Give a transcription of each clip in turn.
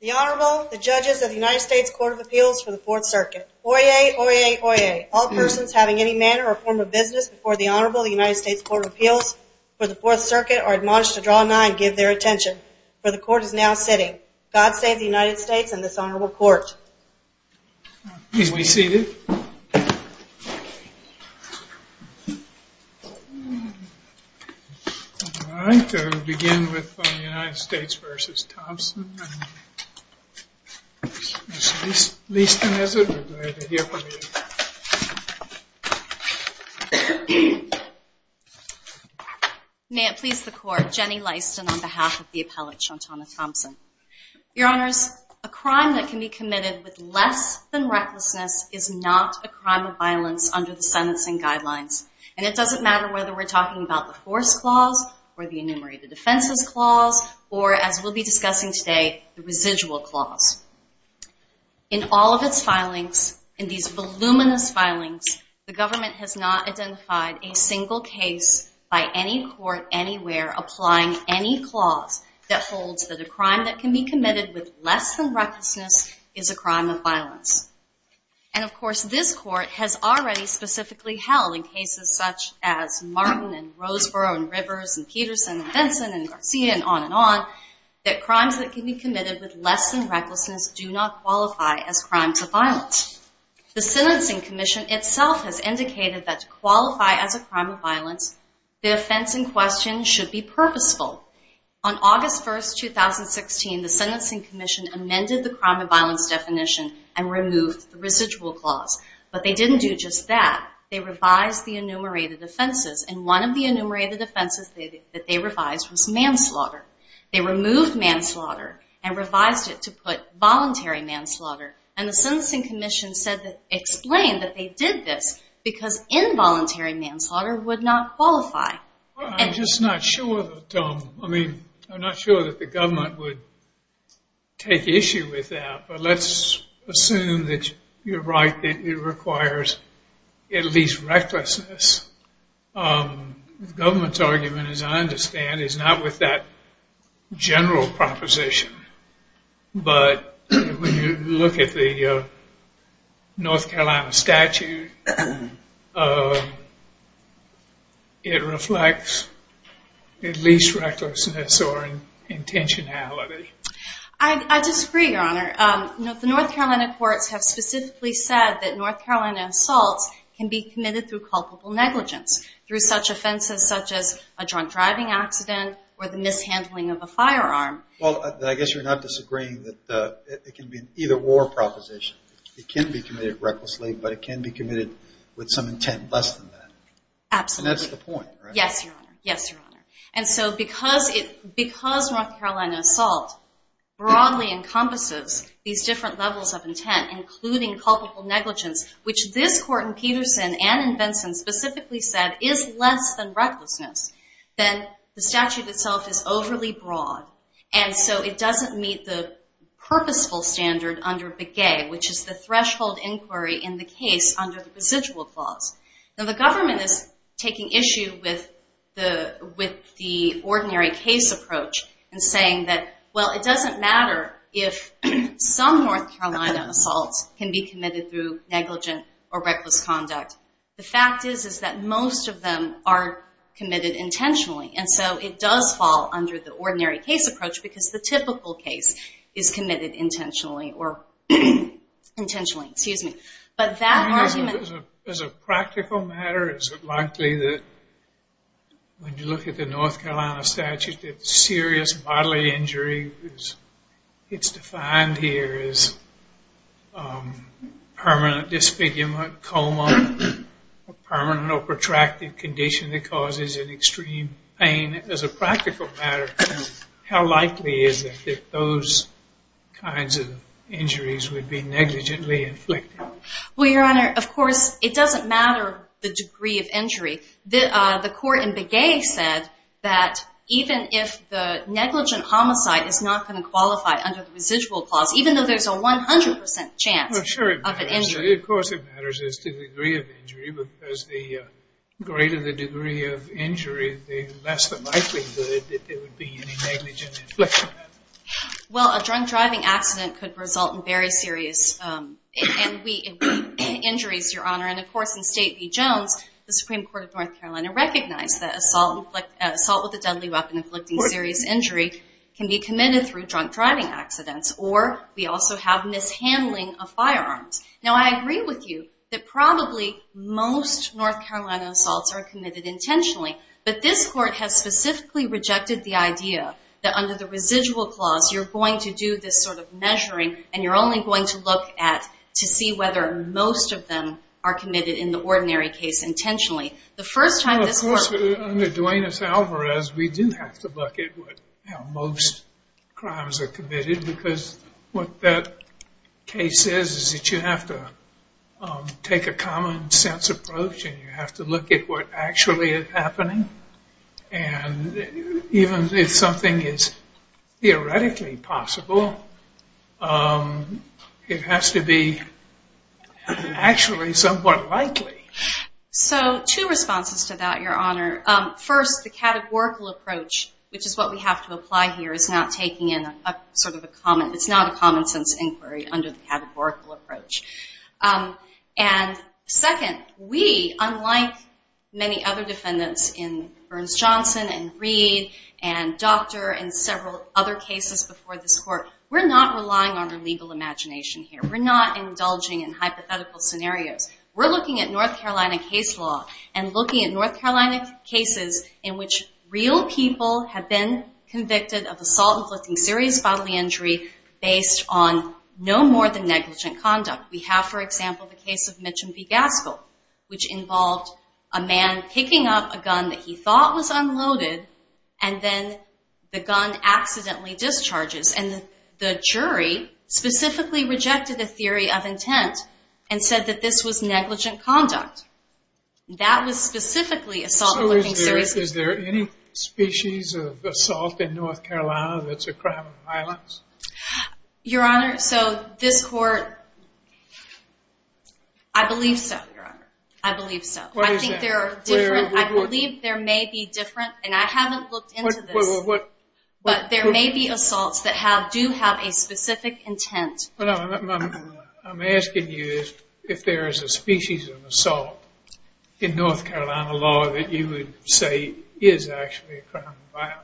The Honorable, the judges of the United States Court of Appeals for the Fourth Circuit. Oyez, oyez, oyez. All persons having any manner or form of business before the Honorable of the United States Court of Appeals for the Fourth Circuit are admonished to draw a nine and give their attention, for the Court is now sitting. God save the United States and this Honorable Court. Please be seated. All right, we'll begin with the United States v. Thompson. Ms. Leaston, is it? We're glad to hear from you. May it please the Court, Jenny Leaston on behalf of the appellate, Shawntanna Thompson. Your Honors, a crime that can be committed with less than recklessness is not a crime of violence under the sentencing guidelines. And it doesn't matter whether we're talking about the force clause or the enumerated offenses clause or, as we'll be discussing today, the residual clause. In all of its filings, in these voluminous filings, the government has not identified a single case by any court anywhere applying any clause that holds that a crime that can be committed with less than recklessness is a crime of violence. And, of course, this Court has already specifically held in cases such as Martin and Roseborough and Rivers and Peterson and Benson and Garcia and on and on, that crimes that can be committed with less than recklessness do not qualify as crimes of violence. The Sentencing Commission itself has indicated that to qualify as a crime of violence, the offense in question should be purposeful. On August 1, 2016, the Sentencing Commission amended the crime of violence definition and removed the residual clause. But they didn't do just that. They revised the enumerated offenses. And one of the enumerated offenses that they revised was manslaughter. They removed manslaughter and revised it to put voluntary manslaughter. And the Sentencing Commission explained that they did this because involuntary manslaughter would not qualify. I'm just not sure that the government would take issue with that. But let's assume that you're right, that it requires at least recklessness. The government's argument, as I understand, is not with that general proposition. But when you look at the North Carolina statute, it reflects at least recklessness or intentionality. I disagree, Your Honor. The North Carolina courts have specifically said that North Carolina assaults can be committed through culpable negligence, through such offenses such as a drunk driving accident or the mishandling of a firearm. Well, I guess you're not disagreeing that it can be either or proposition. It can be committed recklessly, but it can be committed with some intent less than that. Absolutely. And that's the point, right? Yes, Your Honor. Yes, Your Honor. And so because North Carolina assault broadly encompasses these different levels of intent, including culpable negligence, which this court in Peterson and in Benson specifically said is less than recklessness, then the statute itself is overly broad. And so it doesn't meet the purposeful standard under Begay, which is the threshold inquiry in the case under the residual clause. Now, the government is taking issue with the ordinary case approach and saying that, well, it doesn't matter if some North Carolina assaults can be committed through negligent or reckless conduct. The fact is is that most of them are committed intentionally, and so it does fall under the ordinary case approach because the typical case is committed intentionally. Intentionally, excuse me. But that argument... As a practical matter, is it likely that when you look at the North Carolina statute, that serious bodily injury, it's defined here as permanent disfigurement, coma, permanent or protracted condition that causes an extreme pain. As a practical matter, how likely is it that those kinds of injuries would be negligently inflicted? Well, Your Honor, of course, it doesn't matter the degree of injury. The court in Begay said that even if the negligent homicide is not going to qualify under the residual clause, even though there's a 100% chance of an injury. Well, of course it matters as to the degree of injury because the greater the degree of injury, the less the likelihood that there would be any negligent infliction. Well, a drunk driving accident could result in very serious injuries, Your Honor, and, of course, in State v. Jones, the Supreme Court of North Carolina recognized that assault with a deadly weapon inflicting serious injury can be committed through drunk driving accidents, or we also have mishandling of firearms. Now, I agree with you that probably most North Carolina assaults are committed intentionally, but this court has specifically rejected the idea that under the residual clause, you're going to do this sort of measuring and you're only going to look at to see whether most of them are committed in the ordinary case intentionally. The first time this court... Well, of course, under Duenas-Alvarez, we do have to look at how most crimes are committed because what that case says is that you have to take a common sense approach and you have to look at what actually is happening, and even if something is theoretically possible, it has to be actually somewhat likely. So two responses to that, Your Honor. First, the categorical approach, which is what we have to apply here, is not taking in a sort of a common... It's not a common sense inquiry under the categorical approach. And second, we, unlike many other defendants in Burns-Johnson and Reed and Doctor and several other cases before this court, we're not relying on our legal imagination here. We're not indulging in hypothetical scenarios. We're looking at North Carolina case law and looking at North Carolina cases in which real people have been convicted of assault inflicting serious bodily injury based on no more than negligent conduct. We have, for example, the case of Mitch and P. Gaskell, which involved a man picking up a gun that he thought was unloaded and then the gun accidentally discharges, and the jury specifically rejected the theory of intent and said that this was negligent conduct. That was specifically assault... So is there any species of assault in North Carolina that's a crime of violence? Your Honor, so this court... I believe so, Your Honor. I believe so. I think there are different... I believe there may be different... And I haven't looked into this. But there may be assaults that do have a specific intent. I'm asking you if there is a species of assault in North Carolina law that you would say is actually a crime of violence.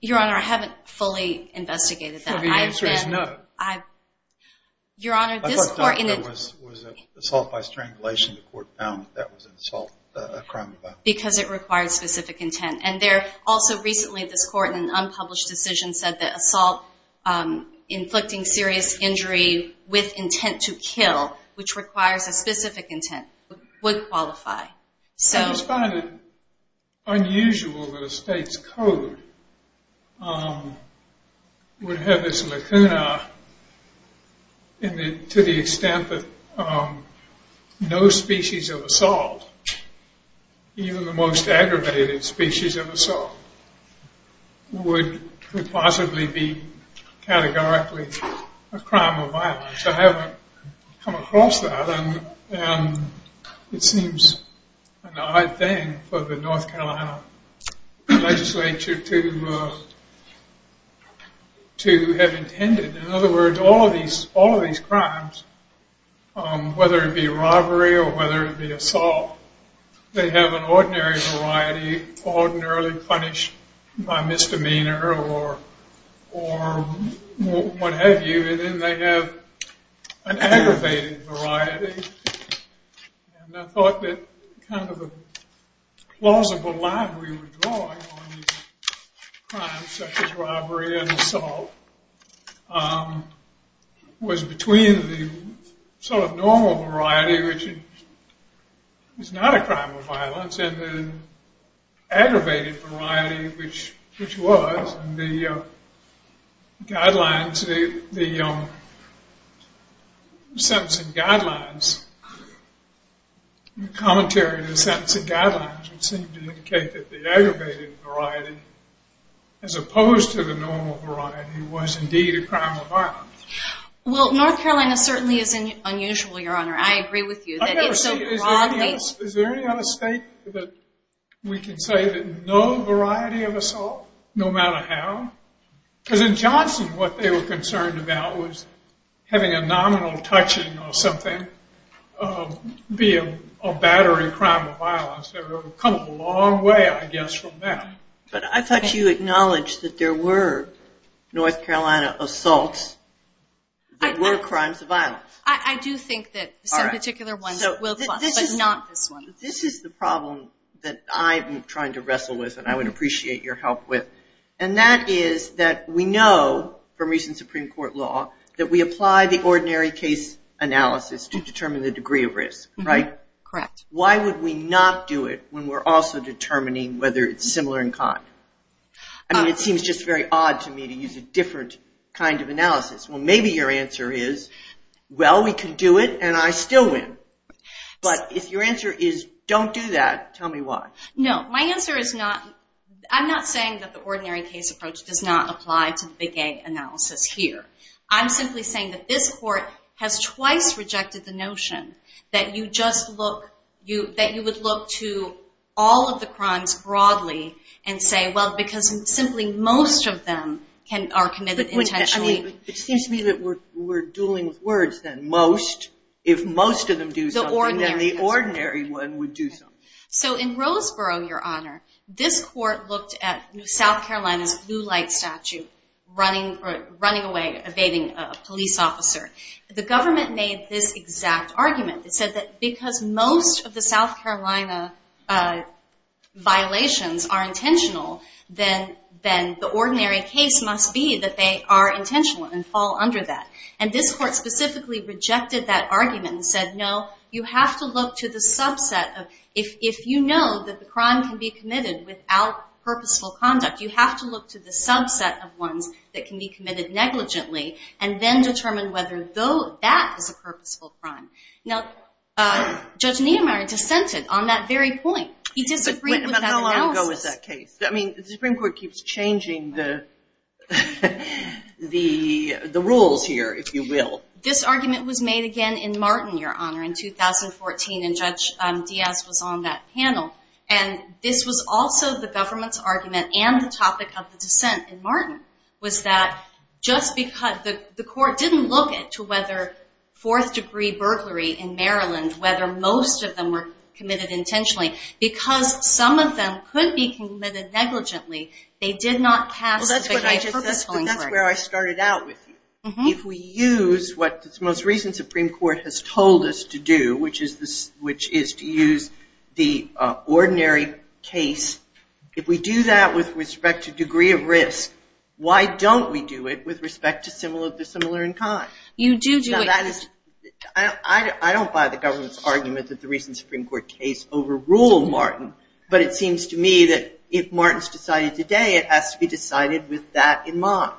Your Honor, I haven't fully investigated that. So the answer is no. Your Honor, this court... I thought there was assault by strangulation. The court found that that was an assault, a crime of violence. Because it required specific intent. And there also recently this court in an unpublished decision said that assault inflicting serious injury with intent to kill, which requires a specific intent, would qualify. It's kind of unusual that a state's code would have this lacuna to the extent that no species of assault, even the most aggravated species of assault, would possibly be categorically a crime of violence. I haven't come across that. And it seems an odd thing for the North Carolina legislature to have intended. In other words, all of these crimes, whether it be robbery or whether it be assault, they have an ordinary variety, ordinarily punished by misdemeanor or what have you. And then they have an aggravated variety. And I thought that kind of a plausible line we were drawing on these crimes, such as robbery and assault, was between the sort of normal variety, which is not a crime of violence, and the aggravated variety, which was. And the guidelines, the sentencing guidelines, the commentary on the sentencing guidelines would seem to indicate that the aggravated variety, as opposed to the normal variety, was indeed a crime of violence. Well, North Carolina certainly is unusual, Your Honor. I agree with you. I've never seen it. Is there any other state that we can say that no variety of assault, no matter how? Because in Johnson, what they were concerned about was having a nominal touching or something be a battery crime of violence. It would come a long way, I guess, from that. that were crimes of violence. I do think that some particular ones will, but not this one. This is the problem that I'm trying to wrestle with and I would appreciate your help with. And that is that we know, from recent Supreme Court law, that we apply the ordinary case analysis to determine the degree of risk, right? Correct. Why would we not do it when we're also determining whether it's similar in kind? I mean, it seems just very odd to me to use a different kind of analysis. Well, maybe your answer is, well, we can do it and I still win. But if your answer is, don't do that, tell me why. No, my answer is not. I'm not saying that the ordinary case approach does not apply to the big A analysis here. I'm simply saying that this Court has twice rejected the notion that you would look to all of the crimes broadly and say, well, because simply most of them are committed intentionally. I mean, it seems to me that we're dueling with words then. Most, if most of them do something, then the ordinary one would do something. So in Roseboro, Your Honor, this Court looked at South Carolina's blue light statute, running away, evading a police officer. The government made this exact argument. It said that because most of the South Carolina violations are intentional, then the ordinary case must be that they are intentional and fall under that. And this Court specifically rejected that argument and said, no, you have to look to the subset. If you know that the crime can be committed without purposeful conduct, you have to look to the subset of ones that can be committed negligently and then determine whether that is a purposeful crime. Now, Judge Niemeyer dissented on that very point. He disagreed with that analysis. I mean, the Supreme Court keeps changing the rules here, if you will. This argument was made again in Martin, Your Honor, in 2014, and Judge Diaz was on that panel. And this was also the government's argument and the topic of the dissent in Martin was that just because the Court didn't look into whether fourth-degree burglary in Maryland, whether most of them were committed intentionally, because some of them could be committed negligently, they did not cast the victim as a purposeful injury. Well, that's where I started out with you. If we use what the most recent Supreme Court has told us to do, which is to use the ordinary case, if we do that with respect to degree of risk, why don't we do it with respect to the similar in kind? You do do it. I don't buy the government's argument that the recent Supreme Court case overruled Martin, but it seems to me that if Martin's decided today, it has to be decided with that in mind.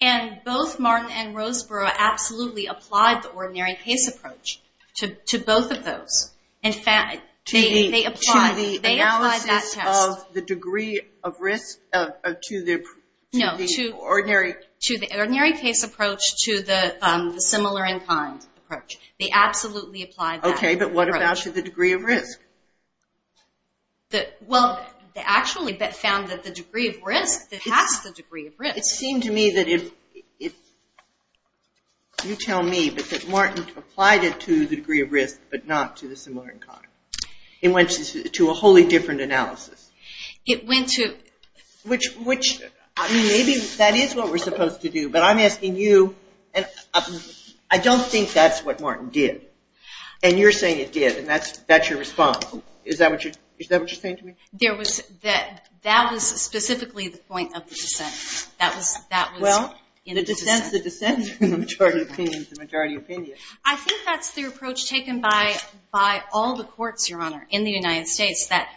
And both Martin and Roseborough absolutely applied the ordinary case approach to both of those. In fact, they applied that test. To the analysis of the degree of risk to the ordinary? The ordinary case approach to the similar in kind approach. They absolutely applied that approach. Okay, but what about to the degree of risk? Well, they actually found that the degree of risk passed the degree of risk. It seemed to me that if you tell me that Martin applied it to the degree of risk but not to the similar in kind, it went to a wholly different analysis. Maybe that is what we're supposed to do, but I'm asking you. I don't think that's what Martin did. And you're saying it did, and that's your response. Is that what you're saying to me? That was specifically the point of the dissent. Well, the dissent in the majority opinion is the majority opinion. I think that's the approach taken by all the courts, Your Honor, in the United States, that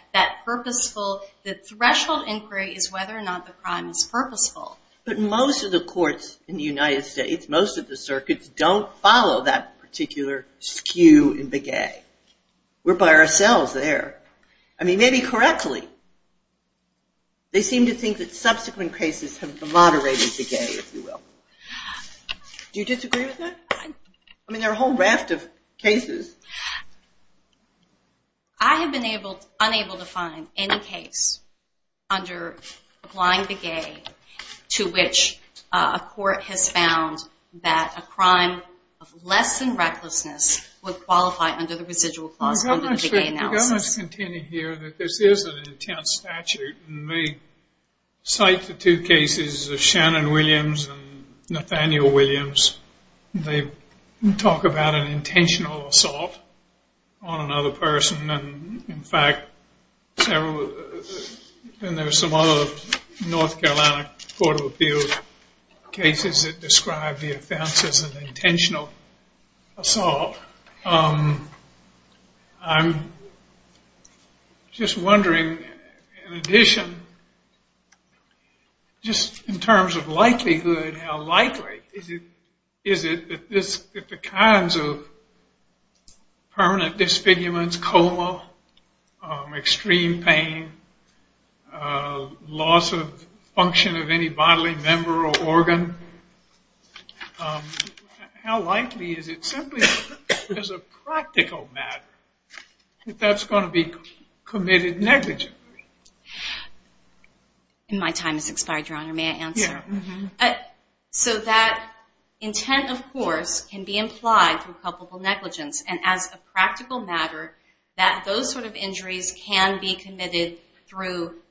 purposeful, the threshold inquiry is whether or not the crime is purposeful. But most of the courts in the United States, most of the circuits, don't follow that particular skew in Begay. We're by ourselves there. I mean, maybe correctly. They seem to think that subsequent cases have moderated Begay, if you will. Do you disagree with that? I mean, there are a whole raft of cases. I have been unable to find any case under applying Begay to which a court has found that a crime of less than recklessness would qualify under the residual clause under the Begay analysis. Your Honor, let's continue here. This is an intense statute. And they cite the two cases of Shannon Williams and Nathaniel Williams. They talk about an intentional assault on another person. And, in fact, there are some other North Carolina court of appeals cases that describe the offense as an intentional assault. I'm just wondering, in addition, just in terms of likelihood, how likely is it that the kinds of permanent disfigurements, coma, extreme pain, loss of function of any bodily member or organ, how likely is it simply as a practical matter that that's going to be committed negligently? My time has expired, Your Honor. May I answer? So that intent, of course, can be implied through culpable negligence. And as a practical matter, that those sort of injuries can be committed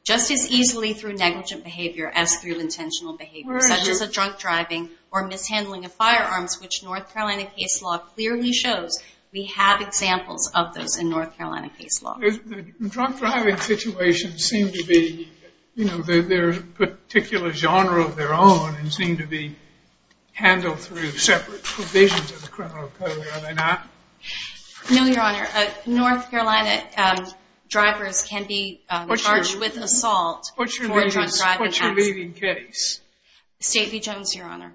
just as easily through negligent behavior as through intentional behavior, such as a drunk driving or mishandling of firearms, which North Carolina case law clearly shows. We have examples of those in North Carolina case law. Drunk driving situations seem to be their particular genre of their own and seem to be handled through separate provisions of the criminal code. Are they not? No, Your Honor. North Carolina drivers can be charged with assault for a drunk driving accident. What's your leading case? State v. Jones, Your Honor,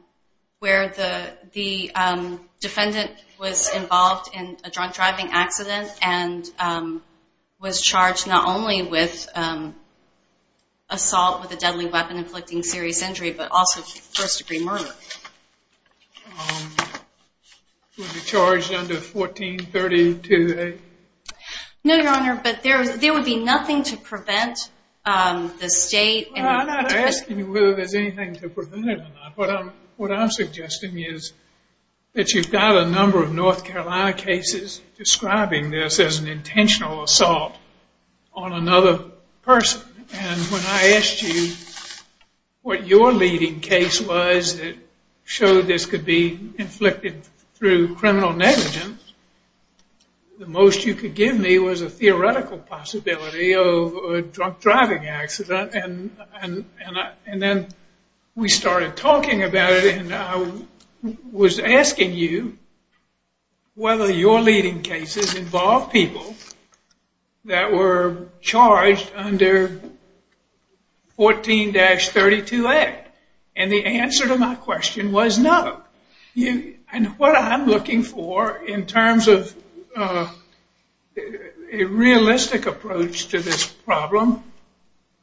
where the defendant was involved in a drunk driving accident and was charged not only with assault with a deadly weapon inflicting serious injury, but also first-degree murder. Was he charged under 1432A? No, Your Honor, but there would be nothing to prevent the state. I'm not asking you whether there's anything to prevent it or not. What I'm suggesting is that you've got a number of North Carolina cases describing this as an intentional assault on another person. And when I asked you what your leading case was that showed this could be inflicted through criminal negligence, the most you could give me was a theoretical possibility of a drunk driving accident. And then we started talking about it, and I was asking you whether your leading cases involved people that were charged under 14-32A. And the answer to my question was no. And what I'm looking for in terms of a realistic approach to this problem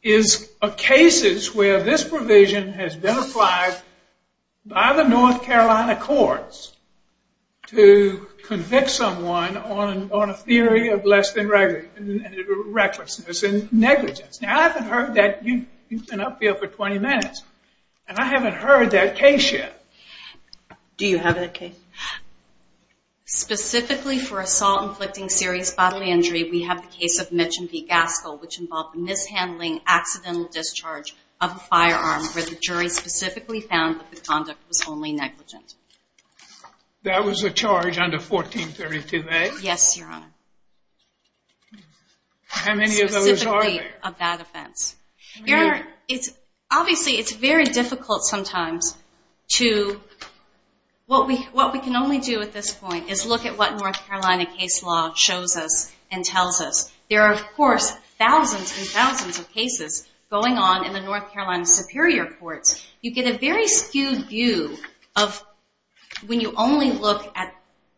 is cases where this provision has been applied by the North Carolina courts to convict someone on a theory of less than recklessness and negligence. Now, I haven't heard that. You've been up here for 20 minutes. And I haven't heard that case yet. Do you have that case? Specifically for assault inflicting serious bodily injury, we have the case of Mitch and V. Gaskell, which involved mishandling accidental discharge of a firearm where the jury specifically found that the conduct was only negligent. That was a charge under 14-32A? Yes, Your Honor. How many of those are there? Specifically a bad offense. Obviously, it's very difficult sometimes to... What we can only do at this point is look at what North Carolina case law shows us and tells us. There are, of course, thousands and thousands of cases going on in the North Carolina Superior Courts. You get a very skewed view of when you only look at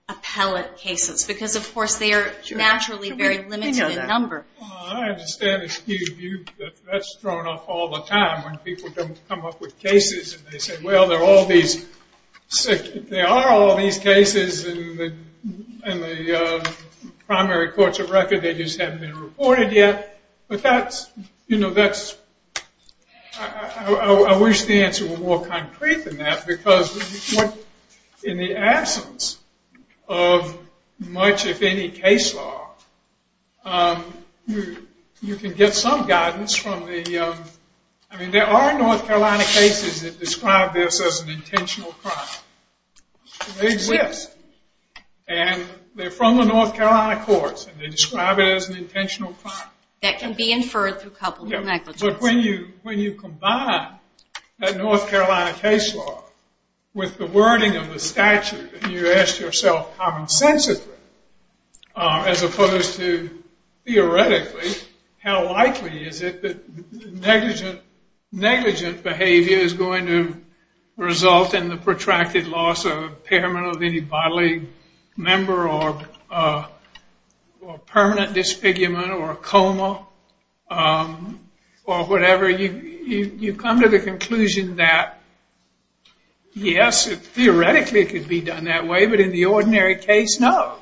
appellate cases because, of course, they are naturally very limited in number. I understand the skewed view, but that's thrown off all the time when people come up with cases and they say, well, there are all these cases in the primary courts of record. They just haven't been reported yet. But I wish the answer were more concrete than that because in the absence of much, if any, case law, you can get some guidance from the... I mean, there are North Carolina cases that describe this as an intentional crime. They exist. And they're from the North Carolina courts, and they describe it as an intentional crime. That can be inferred through a couple of negligences. But when you combine that North Carolina case law with the wording of the statute, and you ask yourself commonsensically as opposed to theoretically, how likely is it that negligent behavior is going to result in the protracted loss of impairment of any bodily member or permanent disfigurement or coma or whatever, you come to the conclusion that, yes, theoretically it could be done that way, but in the ordinary case, no.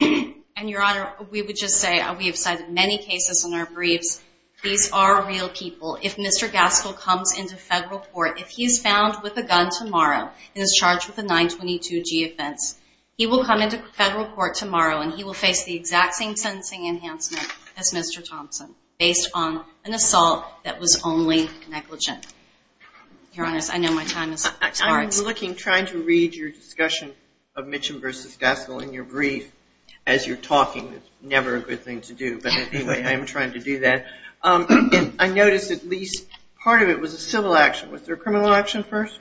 And, Your Honor, we would just say we have cited many cases in our briefs. These are real people. If Mr. Gaskell comes into federal court, if he's found with a gun tomorrow and is charged with a 922G offense, he will come into federal court tomorrow, and he will face the exact same sentencing enhancement as Mr. Thompson based on an assault that was only negligent. Your Honors, I know my time has expired. I was looking, trying to read your discussion of Mitcham v. Gaskell in your brief as you're talking. It's never a good thing to do, but anyway, I am trying to do that. I noticed at least part of it was a civil action. Was there a criminal action first?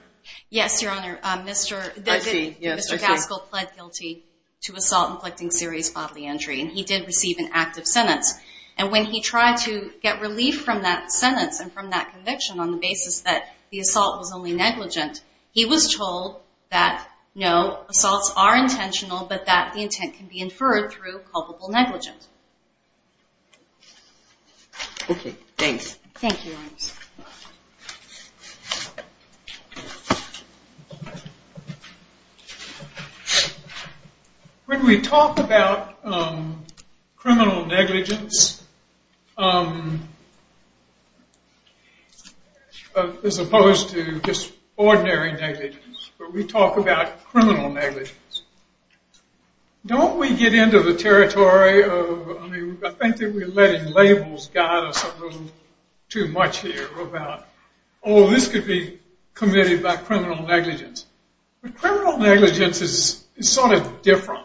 Yes, Your Honor. Mr. Gaskell pled guilty to assault inflicting serious bodily injury, and he did receive an active sentence. And when he tried to get relief from that sentence and from that conviction on the basis that the assault was only negligent, he was told that, no, assaults are intentional but that the intent can be inferred through culpable negligence. Thank you, Your Honors. When we talk about criminal negligence as opposed to just ordinary negligence, when we talk about criminal negligence, don't we get into the territory of, I think that we're letting labels guide us a little too much here about, oh, this could be committed by criminal negligence. But criminal negligence is sort of different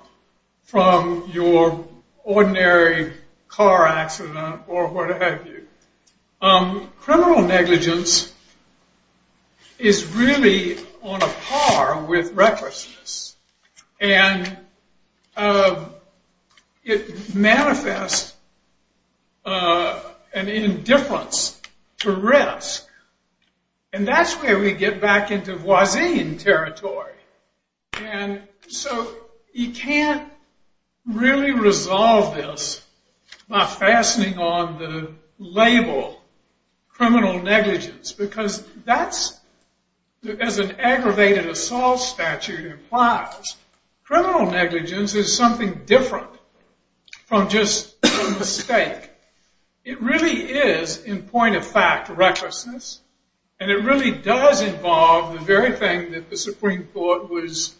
from your ordinary car accident or what have you. Criminal negligence is really on a par with recklessness. And it manifests an indifference to risk. And that's where we get back into Voisin territory. And so you can't really resolve this by fastening on the label criminal negligence because that's, as an aggravated assault statute implies, criminal negligence is something different from just a mistake. It really is, in point of fact, recklessness. And it really does involve the very thing that the Supreme Court was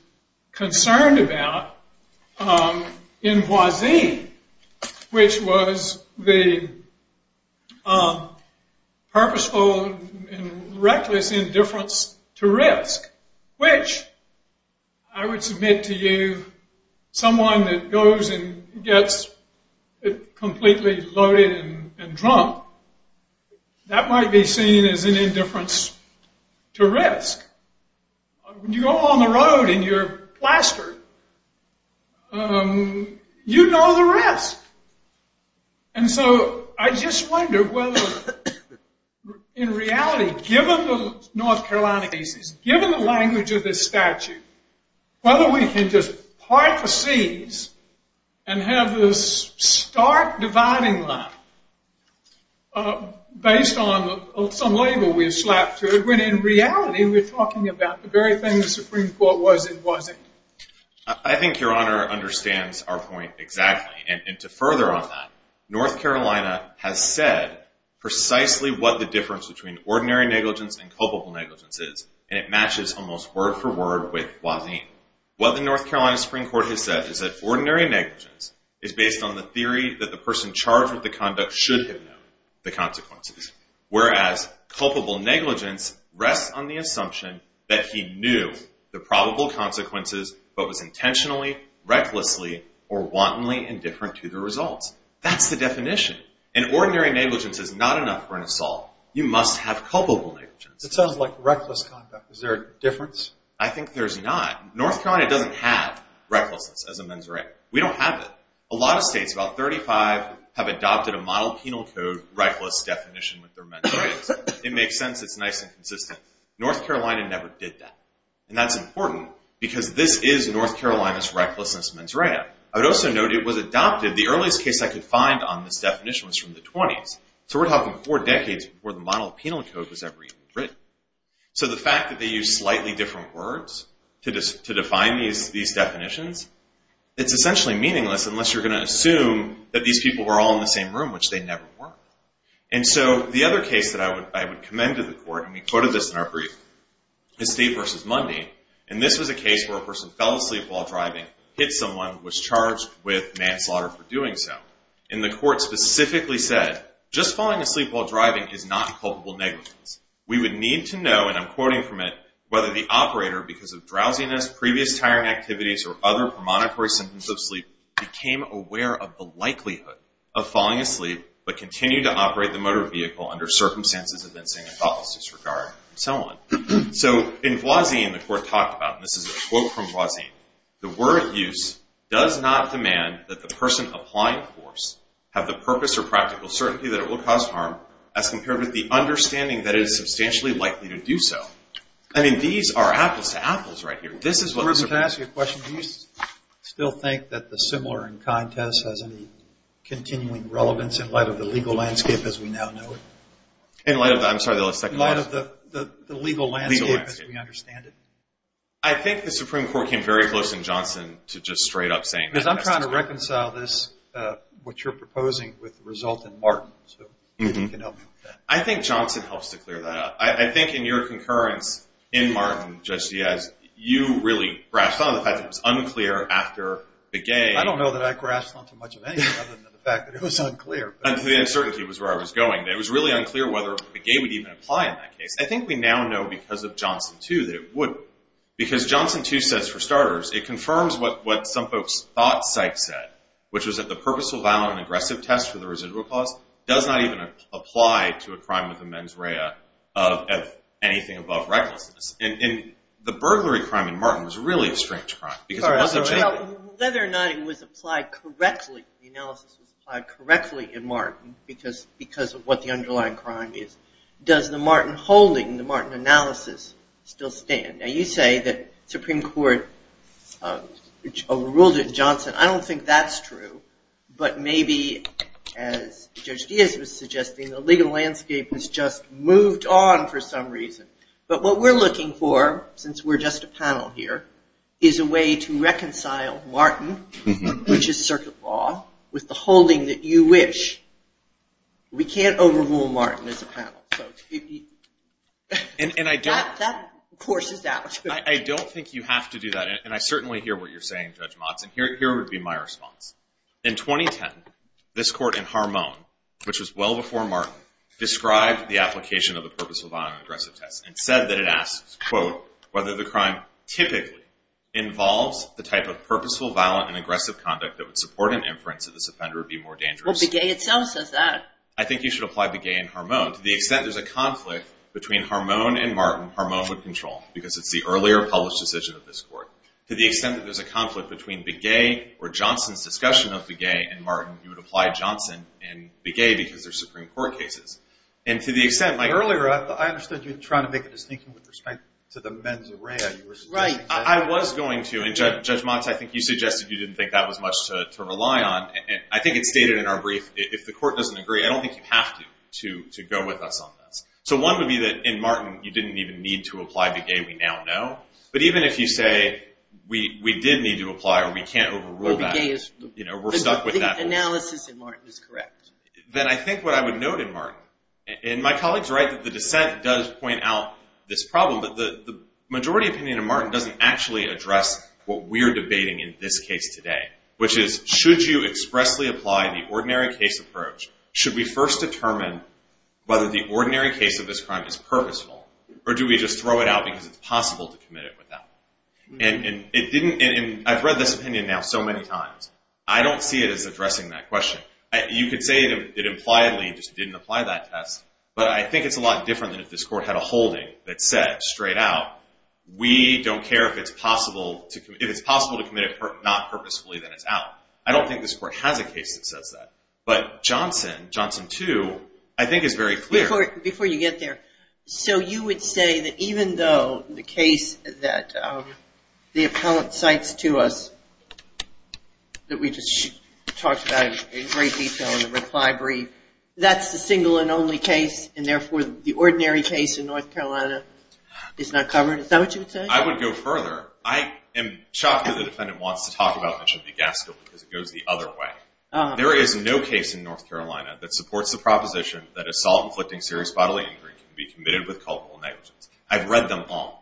concerned about in Voisin, which was the purposeful and reckless indifference to risk, which I would submit to you, someone that goes and gets completely loaded and drunk, that might be seen as an indifference to risk. When you go on the road and you're plastered, you know the risk. And so I just wonder whether, in reality, given the North Carolina cases, given the language of this statute, whether we can just part the seas and have this stark dividing line based on some label we've slapped through, when in reality we're talking about the very thing the Supreme Court was in Voisin. I think Your Honor understands our point exactly. And to further on that, North Carolina has said precisely what the difference between ordinary negligence and culpable negligence is, and it matches almost word for word with Voisin. What the North Carolina Supreme Court has said is that ordinary negligence is based on the theory that the person charged with the conduct should have known the consequences, whereas culpable negligence rests on the assumption that he knew the probable consequences but was intentionally, recklessly, or wantonly indifferent to the results. That's the definition. And ordinary negligence is not enough for an assault. You must have culpable negligence. It sounds like reckless conduct. Is there a difference? I think there's not. North Carolina doesn't have recklessness as a mens rea. We don't have it. A lot of states, about 35, have adopted a model penal code reckless definition with their mens reas. It makes sense. It's nice and consistent. North Carolina never did that. And that's important because this is North Carolina's recklessness mens rea. I would also note it was adopted, the earliest case I could find on this definition was from the 20s. So we're talking four decades before the model penal code was ever even written. So the fact that they use slightly different words to define these definitions, it's essentially meaningless unless you're going to assume that these people were all in the same room, which they never were. And so the other case that I would commend to the court, and we quoted this in our brief, is Steve versus Mundy. And this was a case where a person fell asleep while driving, hit someone, was charged with manslaughter for doing so. And the court specifically said, just falling asleep while driving is not culpable negligence. We would need to know, and I'm quoting from it, whether the operator, because of drowsiness, previous tiring activities, or other premonitory symptoms of sleep, became aware of the likelihood of falling asleep but continued to operate the motor vehicle under circumstances of insane thoughtless disregard, and so on. So in Voisin, the court talked about, and this is a quote from Voisin, the word use does not demand that the person applying force have the purpose or practical certainty that it will cause harm as compared with the understanding that it is substantially likely to do so. I mean, these are apples to apples right here. Bruce, can I ask you a question? Do you still think that the similar in contest has any continuing relevance in light of the legal landscape as we now know it? In light of the, I'm sorry, the second question. In light of the legal landscape as we understand it. I think the Supreme Court came very close in Johnson to just straight up saying that. Because I'm trying to reconcile this, what you're proposing, with the result in Martin. So if you can help me with that. I think Johnson helps to clear that up. I think in your concurrence in Martin, Judge Diaz, you really grasped on to the fact that it was unclear after Begay. I don't know that I grasped on to much of anything other than the fact that it was unclear. The uncertainty was where I was going. It was really unclear whether Begay would even apply in that case. I think we now know because of Johnson 2 that it would. Because Johnson 2 says, for starters, it confirms what some folks thought Sykes said, which was that the purposeful, violent, and aggressive test for the residual cause does not even apply to a crime of the mens rea of anything above recklessness. The burglary crime in Martin was really a strange crime. Whether or not it was applied correctly, the analysis was applied correctly in Martin, because of what the underlying crime is, does the Martin holding, the Martin analysis, still stand? Now you say that the Supreme Court overruled it in Johnson. I don't think that's true. But maybe, as Judge Diaz was suggesting, the legal landscape has just moved on for some reason. But what we're looking for, since we're just a panel here, is a way to reconcile Martin, which is circuit law, with the holding that you wish. We can't overrule Martin as a panel. That courses out. I don't think you have to do that. And I certainly hear what you're saying, Judge Motsen. Here would be my response. In 2010, this court in Harmon, which was well before Martin, described the application of the purposeful, violent, and aggressive test, and said that it asks, quote, whether the crime typically involves the type of purposeful, violent, and aggressive conduct that would support an inference that this offender would be more dangerous. Well, Begay itself says that. I think you should apply Begay and Harmon. To the extent there's a conflict between Harmon and Martin, Harmon would control, because it's the earlier published decision of this court. To the extent that there's a conflict between Begay or Johnson's discussion of Begay and Martin, you would apply Johnson and Begay, because they're Supreme Court cases. And to the extent my earlieró Earlier, I understood you were trying to make a distinction with respect to the mens rea. Right. I was going to. And, Judge Motsen, I think you suggested you didn't think that was much to rely on. I think it's stated in our brief, if the court doesn't agree, I don't think you have to go with us on this. So one would be that, in Martin, you didn't even need to apply Begay. We now know. But even if you say, we did need to apply, or we can't overrule tható Well, Begay isó We're stuck with that. The analysis in Martin is correct. Then I think what I would note in Martinó And my colleague's right that the dissent does point out this problem, but the majority opinion in Martin doesn't actually address what we're debating in this case today, which is, should you expressly apply the ordinary case approach? Should we first determine whether the ordinary case of this crime is purposeful, or do we just throw it out because it's possible to commit it without? And it didn'tóI've read this opinion now so many times. I don't see it as addressing that question. You could say it impliedly just didn't apply that test, but I think it's a lot different than if this court had a holding that said straight out, we don't care if it's possible toóif it's possible to commit it not purposefully, then it's out. I don't think this court has a case that says that. But Johnson, Johnson 2, I think is very clear. Before you get there, so you would say that even though the case that the appellant cites to us, that we just talked about in great detail in the reply brief, that's the single and only case, and therefore the ordinary case in North Carolina is not covered? Is that what you would say? I would go further. I am shocked that the defendant wants to talk about Mitchell v. Gaskill because it goes the other way. There is no case in North Carolina that supports the proposition that assault inflicting serious bodily injury can be committed with culpable negligence. I've read them all.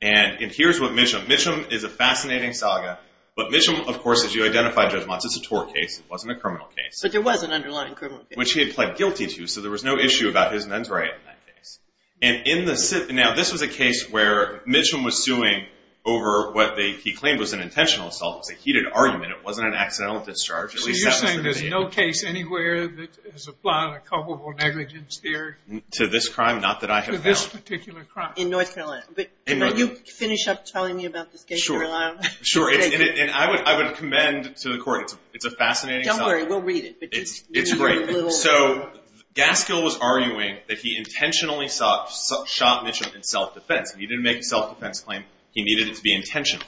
And here's what MitchumóMitchum is a fascinating saga, but Mitchum, of course, as you identified, Judge Motz, it's a tort case. It wasn't a criminal case. But there was an underlying criminal case. Which he had pled guilty to, so there was no issue about his mens rea in that case. And in theónow, this was a case where Mitchum was suing over what he claimed was an intentional assault. It was a heated argument. It wasn't an accidental discharge. So you're saying there's no case anywhere that has applied a culpable negligence theoryó To this crime? Not that I have found. To this particular crime. In North Carolina. But can you finish up telling me about this case in North Carolina? Sure. And I would commend to the courtóit's a fascinating saga. Don't worry. We'll read it. It's great. So Gaskill was arguing that he intentionally shot Mitchum in self-defense. He didn't make a self-defense claim. He needed it to be intentional.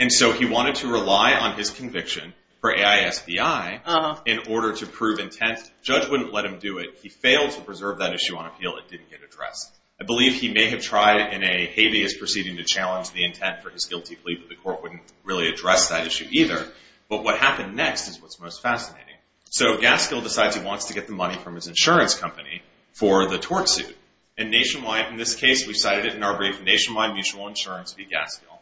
And so he wanted to rely on his conviction for AISBI in order to prove intent. The judge wouldn't let him do it. He failed to preserve that issue on appeal. It didn't get addressed. I believe he may have tried in a habeas proceeding to challenge the intent for his guilty plea, but the court wouldn't really address that issue either. But what happened next is what's most fascinating. So Gaskill decides he wants to get the money from his insurance company for the tort suit. And nationwideóin this case, we cited it in our briefónationwide mutual insurance v. Gaskill.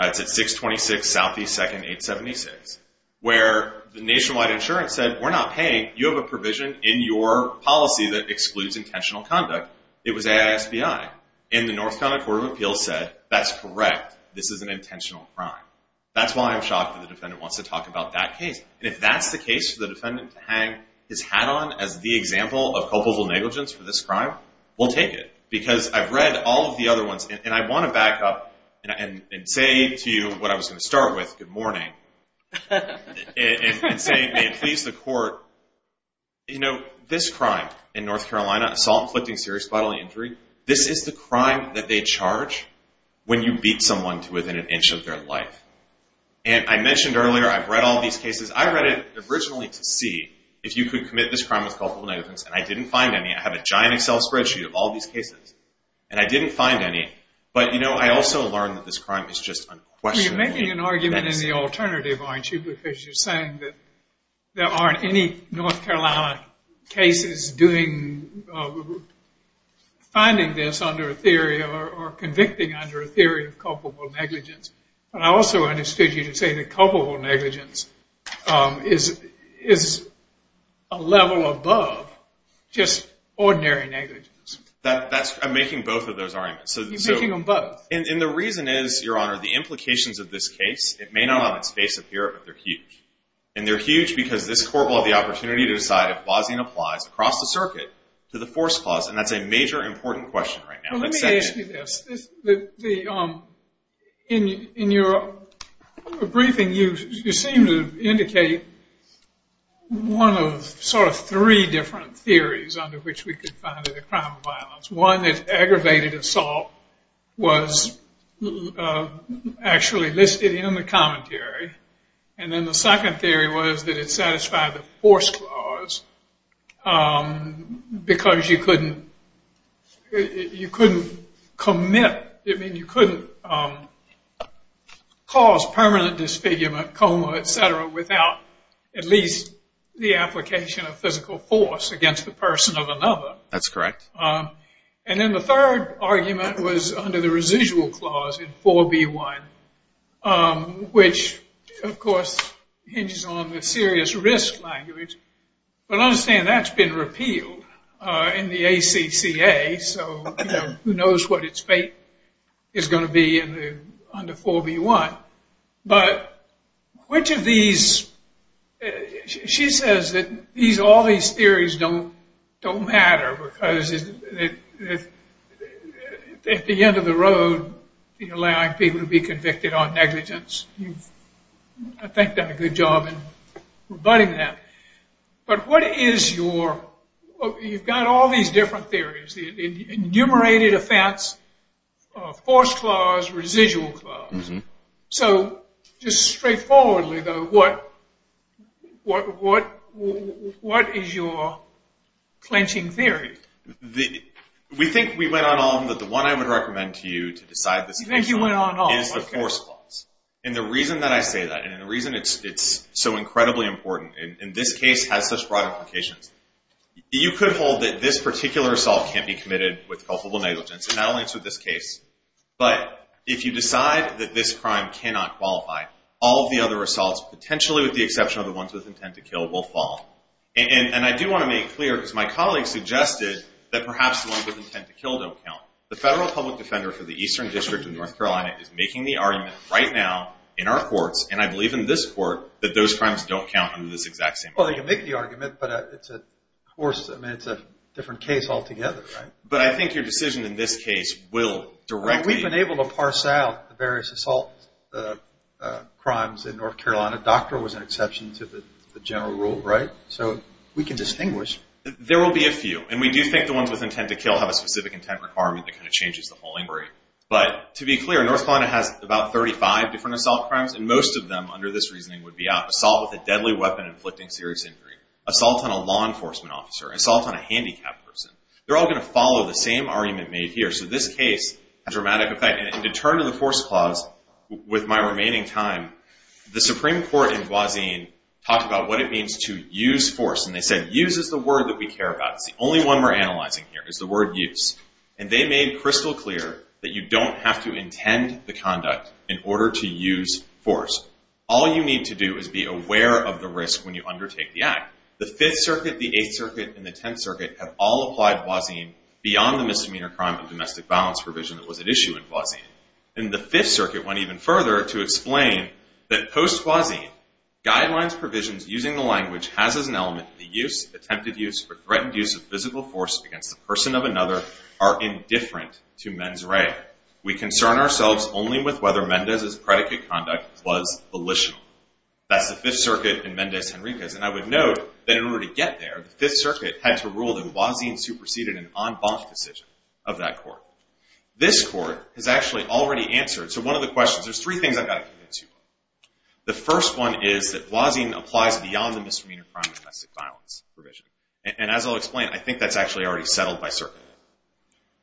It's at 626 Southeast 2nd, 876, where the nationwide insurance said, We're not paying. You have a provision in your policy that excludes intentional conduct. It was AISBI. And the North Carolina Court of Appeals said, That's correct. This is an intentional crime. That's why I'm shocked that the defendant wants to talk about that case. And if that's the case for the defendant to hang his hat on as the example of culpable negligence for this crime, we'll take it because I've read all of the other ones. And I want to back up and say to you what I was going to start withógood morningóand say, May it please the court, you know, this crime in North Carolinaóassault, inflicting serious bodily injuryó this is the crime that they charge when you beat someone to within an inch of their life. And I mentioned earlier, I've read all these cases. I read it originally to see if you could commit this crime with culpable negligence, and I didn't find any. I have a giant Excel spreadsheet of all these cases. And I didn't find any. But, you know, I also learned that this crime is just unquestionable. You're making an argument in the alternative, aren't you, because you're saying that there aren't any North Carolina cases doingófinding this under a theory or convicting under a theory of culpable negligence. But I also understood you to say that culpable negligence is a level above just ordinary negligence. That'sóI'm making both of those arguments. You're making them both. And the reason is, Your Honor, the implications of this case, it may not on its face appear, but they're huge. And they're huge because this court will have the opportunity to decide if Bozzian applies across the circuit to the force clause. And that's a major important question right now. Let me ask you this. In your briefing, you seem to indicate one of sort of three different theories under which we could find it a crime of violence. One is aggravated assault was actually listed in the commentary. And then the second theory was that it satisfied the force clause because you couldn't commitóI mean, you couldn't cause permanent disfigurement, coma, et cetera, without at least the application of physical force against the person of another. That's correct. And then the third argument was under the residual clause in 4B1, which, of course, hinges on the serious risk language. But understand that's been repealed in the ACCA, so who knows what its fate is going to be under 4B1. But which of theseóshe says that all these theories don't matter because at the end of the road, allowing people to be convicted on negligence, you've, I think, done a good job in rebutting them. But what is youróyou've got all these different theories, the enumerated offense, force clause, residual clause. So just straightforwardly, though, what is your clenching theory? We think we went on on that the one I would recommend to you to decide thisó You think you went on on, okay. Is the force clause. And the reason that I say that, and the reason it's so incredibly important, and this case has such broad implications, you could hold that this particular assault can't be committed with culpable negligence. But if you decide that this crime cannot qualify, all of the other assaults, potentially with the exception of the ones with intent to kill, will fall. And I do want to make clear, because my colleague suggested, that perhaps the ones with intent to kill don't count. The Federal Public Defender for the Eastern District of North Carolina is making the argument right now in our courts, and I believe in this court, that those crimes don't count under this exact same clause. Well, they can make the argument, but it's a different case altogether, right? But I think your decision in this case will directlyó We've been able to parse out the various assault crimes in North Carolina. Doctor was an exception to the general rule, right? So we can distinguish. There will be a few. And we do think the ones with intent to kill have a specific intent requirement that kind of changes the whole inquiry. But to be clear, North Carolina has about 35 different assault crimes, and most of them, under this reasoning, would be out. Assault with a deadly weapon inflicting serious injury. Assault on a law enforcement officer. Assault on a handicapped person. They're all going to follow the same argument made here. So this case has a dramatic effect. And to turn to the force clause, with my remaining time, the Supreme Court in Guazin talked about what it means to use force, and they said use is the word that we care about. It's the only one we're analyzing here is the word use. And they made crystal clear that you don't have to intend the conduct in order to use force. All you need to do is be aware of the risk when you undertake the act. The 5th Circuit, the 8th Circuit, and the 10th Circuit have all applied Guazin beyond the misdemeanor crime of domestic violence provision that was at issue in Guazin. And the 5th Circuit went even further to explain that post-Guazin, guidelines provisions using the language has as an element the use, attempted use, or threatened use of physical force against the person of another are indifferent to mens rea. We concern ourselves only with whether Mendez's predicate conduct was volitional. That's the 5th Circuit and Mendez-Henriquez. And I would note that in order to get there, the 5th Circuit had to rule that Guazin superseded an en banc decision of that court. This court has actually already answered. So one of the questions, there's three things I've got to commit to. The first one is that Guazin applies beyond the misdemeanor crime of domestic violence provision. And as I'll explain, I think that's actually already settled by circuit,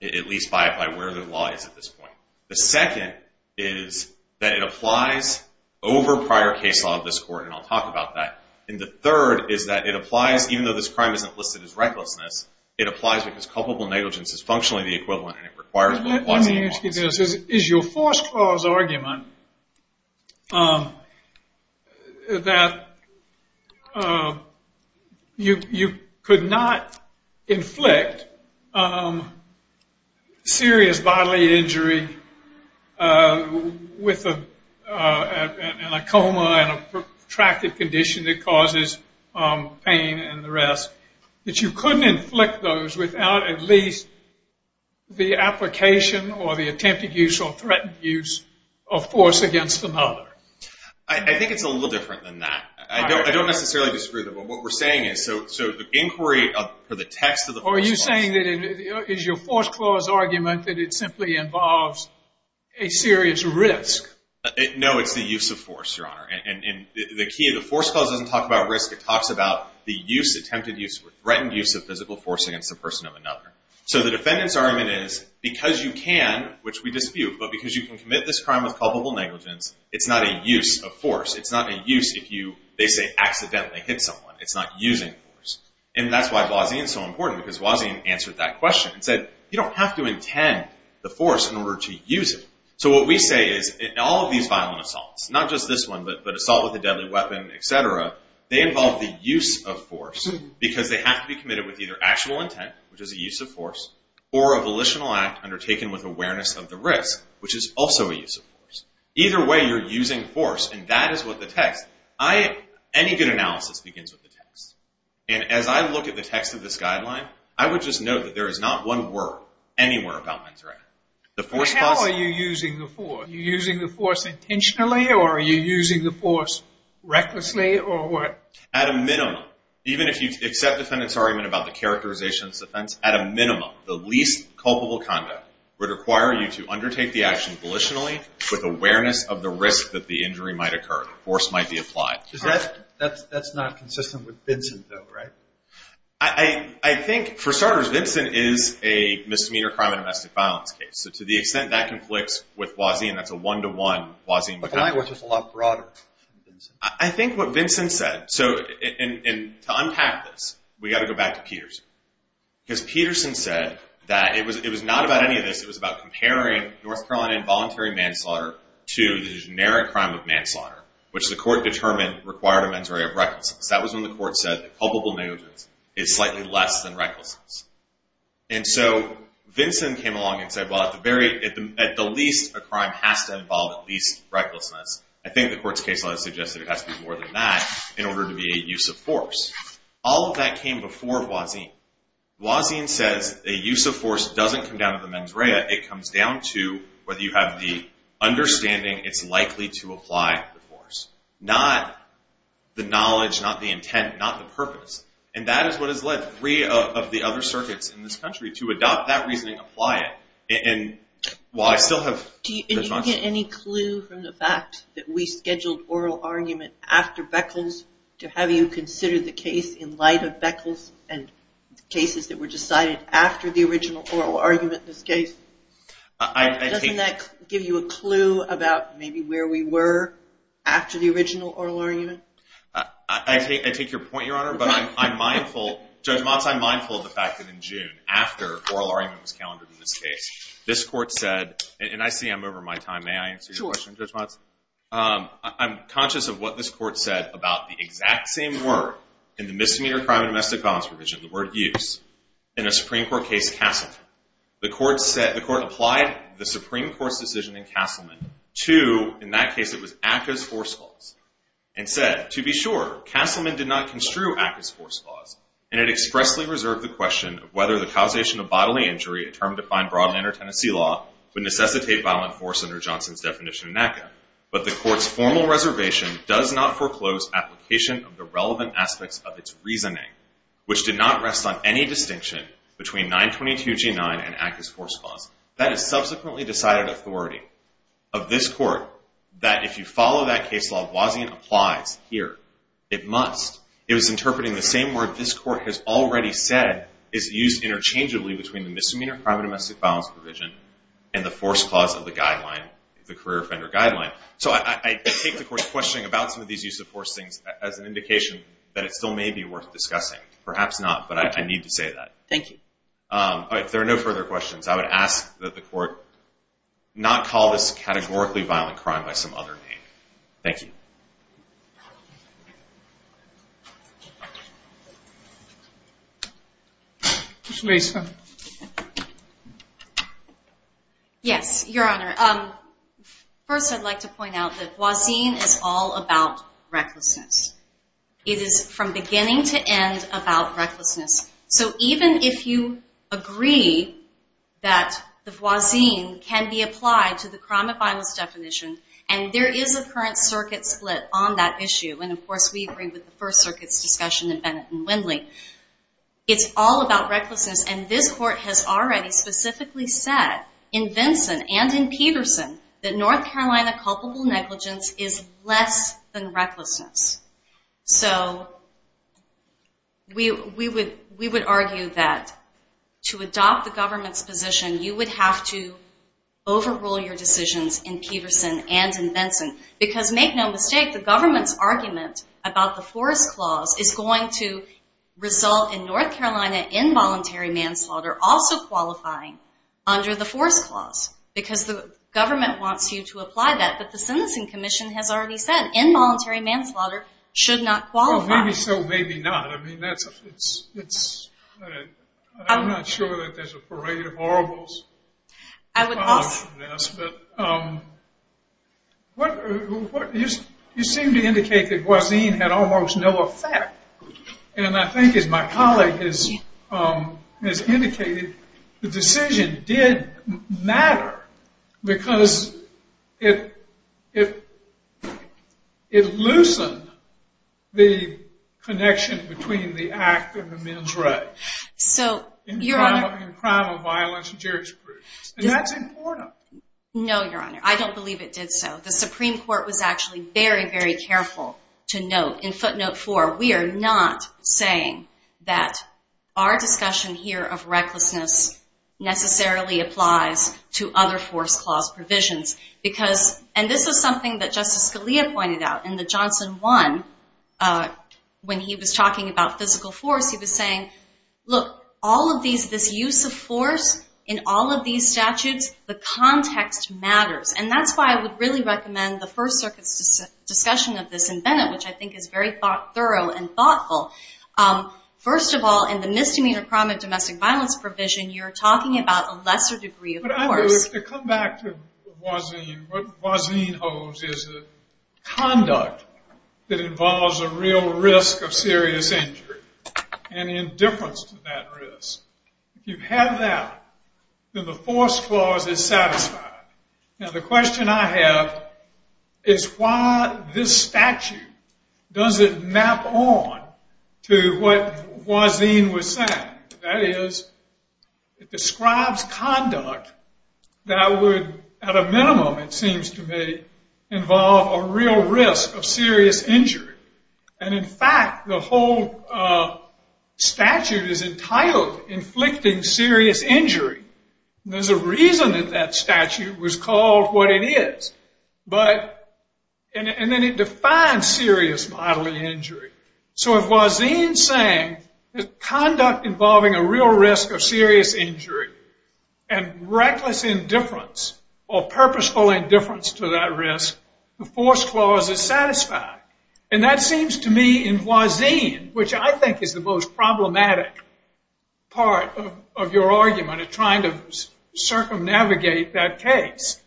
at least by where the law is at this point. The second is that it applies over prior case law of this court, and I'll talk about that. And the third is that it applies, even though this crime isn't listed as recklessness, it applies because culpable negligence is functionally the equivalent, and it requires what Guazin calls. Let me ask you this. Is your force clause argument that you could not inflict serious bodily injury with a coma and a protracted condition that causes pain and the rest, that you couldn't inflict those without at least the application or the attempted use or threatened use of force against another? I think it's a little different than that. I don't necessarily disagree with it, but what we're saying is, so the inquiry for the text of the force clause. Are you saying that it is your force clause argument that it simply involves a serious risk? No, it's the use of force, Your Honor. And the key of the force clause doesn't talk about risk. It talks about the use, attempted use or threatened use of physical force against a person of another. So the defendant's argument is, because you can, which we dispute, but because you can commit this crime with culpable negligence, it's not a use of force. It's not a use if you, they say, accidentally hit someone. It's not using force. And that's why Guazin is so important, because Guazin answered that question and said, you don't have to intend the force in order to use it. So what we say is, in all of these violent assaults, not just this one, but assault with a deadly weapon, et cetera, they involve the use of force, because they have to be committed with either actual intent, which is a use of force, or a volitional act undertaken with awareness of the risk, which is also a use of force. Either way, you're using force, and that is what the text, any good analysis begins with the text. And as I look at the text of this guideline, I would just note that there is not one word anywhere about men's right. How are you using the force? Are you using the force intentionally, or are you using the force recklessly, or what? At a minimum, even if you accept the defendant's argument about the characterization of this offense, at a minimum, the least culpable conduct would require you to undertake the action volitionally with awareness of the risk that the injury might occur. Force might be applied. That's not consistent with Vincent, though, right? I think, for starters, Vincent is a misdemeanor crime and domestic violence case, so to the extent that conflicts with Wazian, that's a one-to-one Wazian. But the line was just a lot broader. I think what Vincent said, and to unpack this, we've got to go back to Peterson, because Peterson said that it was not about any of this. It was about comparing North Carolina involuntary manslaughter to the generic crime of manslaughter, which the court determined required a men's right of recklessness. That was when the court said that culpable negligence is slightly less than recklessness. And so Vincent came along and said, well, at the least, a crime has to involve at least recklessness. I think the court's case law suggested it has to be more than that in order to be a use of force. All of that came before Wazian. Wazian says a use of force doesn't come down to the mens rea. It comes down to whether you have the understanding it's likely to apply the force. Not the knowledge, not the intent, not the purpose. And that is what has led three of the other circuits in this country to adopt that reasoning and apply it. And while I still have... Do you get any clue from the fact that we scheduled oral argument after Beckles to have you consider the case in light of Beckles and cases that were decided after the original oral argument in this case? Doesn't that give you a clue about maybe where we were after the original oral argument? I take your point, Your Honor. But I'm mindful... Judge Motz, I'm mindful of the fact that in June, after oral argument was calendared in this case, this court said... And I see I'm over my time. May I answer your question, Judge Motz? Sure. I'm conscious of what this court said about the exact same word in the misdemeanor crime and domestic violence provision, the word use, in a Supreme Court case, Castleton. The court applied the Supreme Court's decision in Castleman to, in that case, it was ACCA's force clause, and said, To be sure, Castleman did not construe ACCA's force clause, and it expressly reserved the question of whether the causation of bodily injury, a term defined broadly under Tennessee law, would necessitate violent force under Johnson's definition in ACCA. But the court's formal reservation does not foreclose application of the relevant aspects of its reasoning, which did not rest on any distinction between 922G9 and ACCA's force clause. That is subsequently decided authority of this court, that if you follow that case law, Boisian applies here. It must. It was interpreting the same word this court has already said is used interchangeably between the misdemeanor crime and domestic violence provision and the force clause of the guideline, the career offender guideline. So I take the court's questioning about some of these use of force things as an indication that it still may be worth discussing. Perhaps not, but I need to say that. Thank you. If there are no further questions, I would ask that the court not call this categorically violent crime by some other name. Thank you. Ms. Mason. Yes, Your Honor. First I'd like to point out that Boisian is all about recklessness. It is from beginning to end about recklessness. So even if you agree that the Boisian can be applied to the crime of violence definition, and there is a current circuit split on that issue, and of course we agree with the First Circuit's discussion in Bennett and Windley, it's all about recklessness. And this court has already specifically said in Vinson and in Peterson that North Carolina culpable negligence is less than recklessness. So we would argue that to adopt the government's position, you would have to overrule your decisions in Peterson and in Vinson. Because make no mistake, the government's argument about the force clause is going to result in North Carolina involuntary manslaughter also qualifying under the force clause because the government wants you to apply that. But the Sentencing Commission has already said involuntary manslaughter should not qualify. Well, maybe so, maybe not. I mean, I'm not sure that there's a parade of horribles. I would hope so. You seem to indicate that Boisian had almost no effect. And I think as my colleague has indicated, the decision did matter because it loosened the connection between the act and the men's rights. So, Your Honor. In crime of violence and jurisprudence. And that's important. No, Your Honor. I don't believe it did so. The Supreme Court was actually very, very careful to note in footnote four, we are not saying that our discussion here of recklessness necessarily applies to other force clause provisions. And this is something that Justice Scalia pointed out in the Johnson one. When he was talking about physical force, he was saying, look, all of these, this use of force in all of these statutes, the context matters. And that's why I would really recommend the First Circuit's discussion of this in Bennett, which I think is very thorough and thoughtful. First of all, in the misdemeanor crime of domestic violence provision, you're talking about a lesser degree of force. But I believe, to come back to Boisian, what Boisian holds is a conduct that involves a real risk of serious injury. And indifference to that risk. If you have that, then the force clause is satisfied. Now, the question I have is why this statute doesn't map on to what Boisian was saying. That is, it describes conduct that would, at a minimum, it seems to me, involve a real risk of serious injury. And, in fact, the whole statute is entitled inflicting serious injury. There's a reason that that statute was called what it is. And then it defines serious bodily injury. So if Boisian is saying conduct involving a real risk of serious injury and reckless indifference or purposeful indifference to that risk, the force clause is satisfied. And that seems to me, in Boisian, which I think is the most problematic part of your argument, of trying to circumnavigate that case,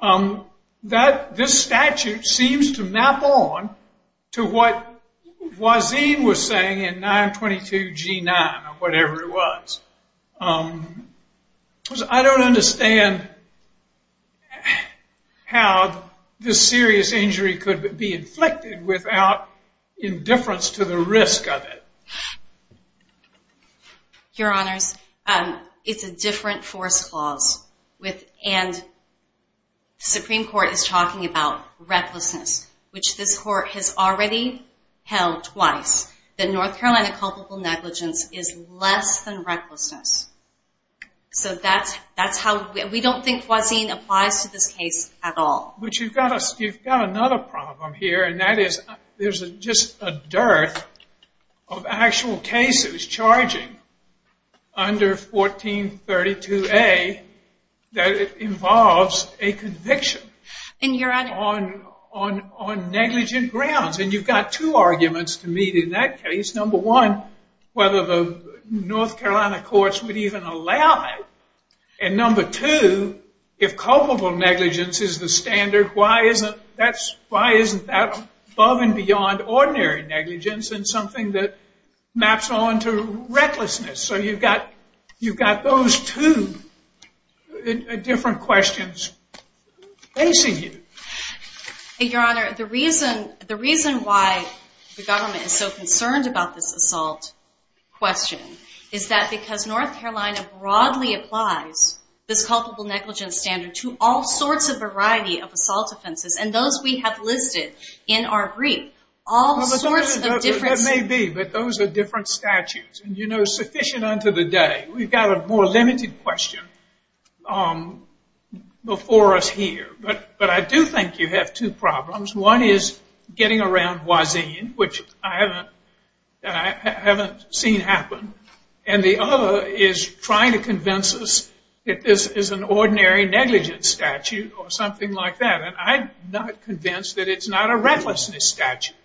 that this statute seems to map on to what Boisian was saying in 922 G9, or whatever it was. Because I don't understand how this serious injury could be inflicted without indifference to the risk of it. Your Honors, it's a different force clause. And the Supreme Court is talking about recklessness, which this Court has already held twice. The North Carolina culpable negligence is less than recklessness. So that's how we don't think Boisian applies to this case at all. But you've got another problem here, and that is there's just a dearth of actual cases charging under 1432A that involves a conviction on negligent grounds. And you've got two arguments to meet in that case. Number one, whether the North Carolina courts would even allow that. And number two, if culpable negligence is the standard, why isn't that above and beyond ordinary negligence and something that maps on to recklessness? So you've got those two different questions facing you. Your Honor, the reason why the government is so concerned about this assault question is that because North Carolina broadly applies this culpable negligence standard to all sorts of variety of assault offenses, and those we have listed in our brief. All sorts of different statutes. That may be, but those are different statutes. And sufficient unto the day. We've got a more limited question before us here. But I do think you have two problems. One is getting around Wasine, which I haven't seen happen. And the other is trying to convince us that this is an ordinary negligence statute or something like that. And I'm not convinced that it's not a recklessness statute,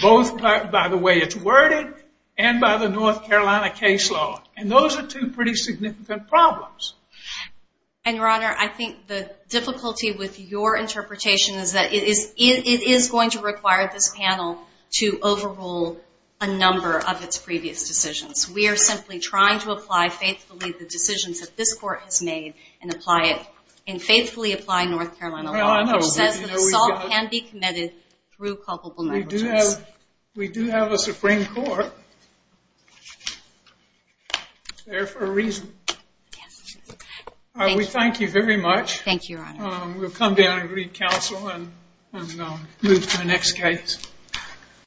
both by the way it's worded and by the North Carolina case law. And those are two pretty significant problems. And, Your Honor, I think the difficulty with your interpretation is that it is going to require this panel to overrule a number of its previous decisions. We are simply trying to apply faithfully the decisions that this court has made and faithfully apply North Carolina law, which says that assault can be committed through culpable negligence. We do have a Supreme Court there for a reason. We thank you very much. Thank you, Your Honor. We'll come down and read counsel and move to the next case.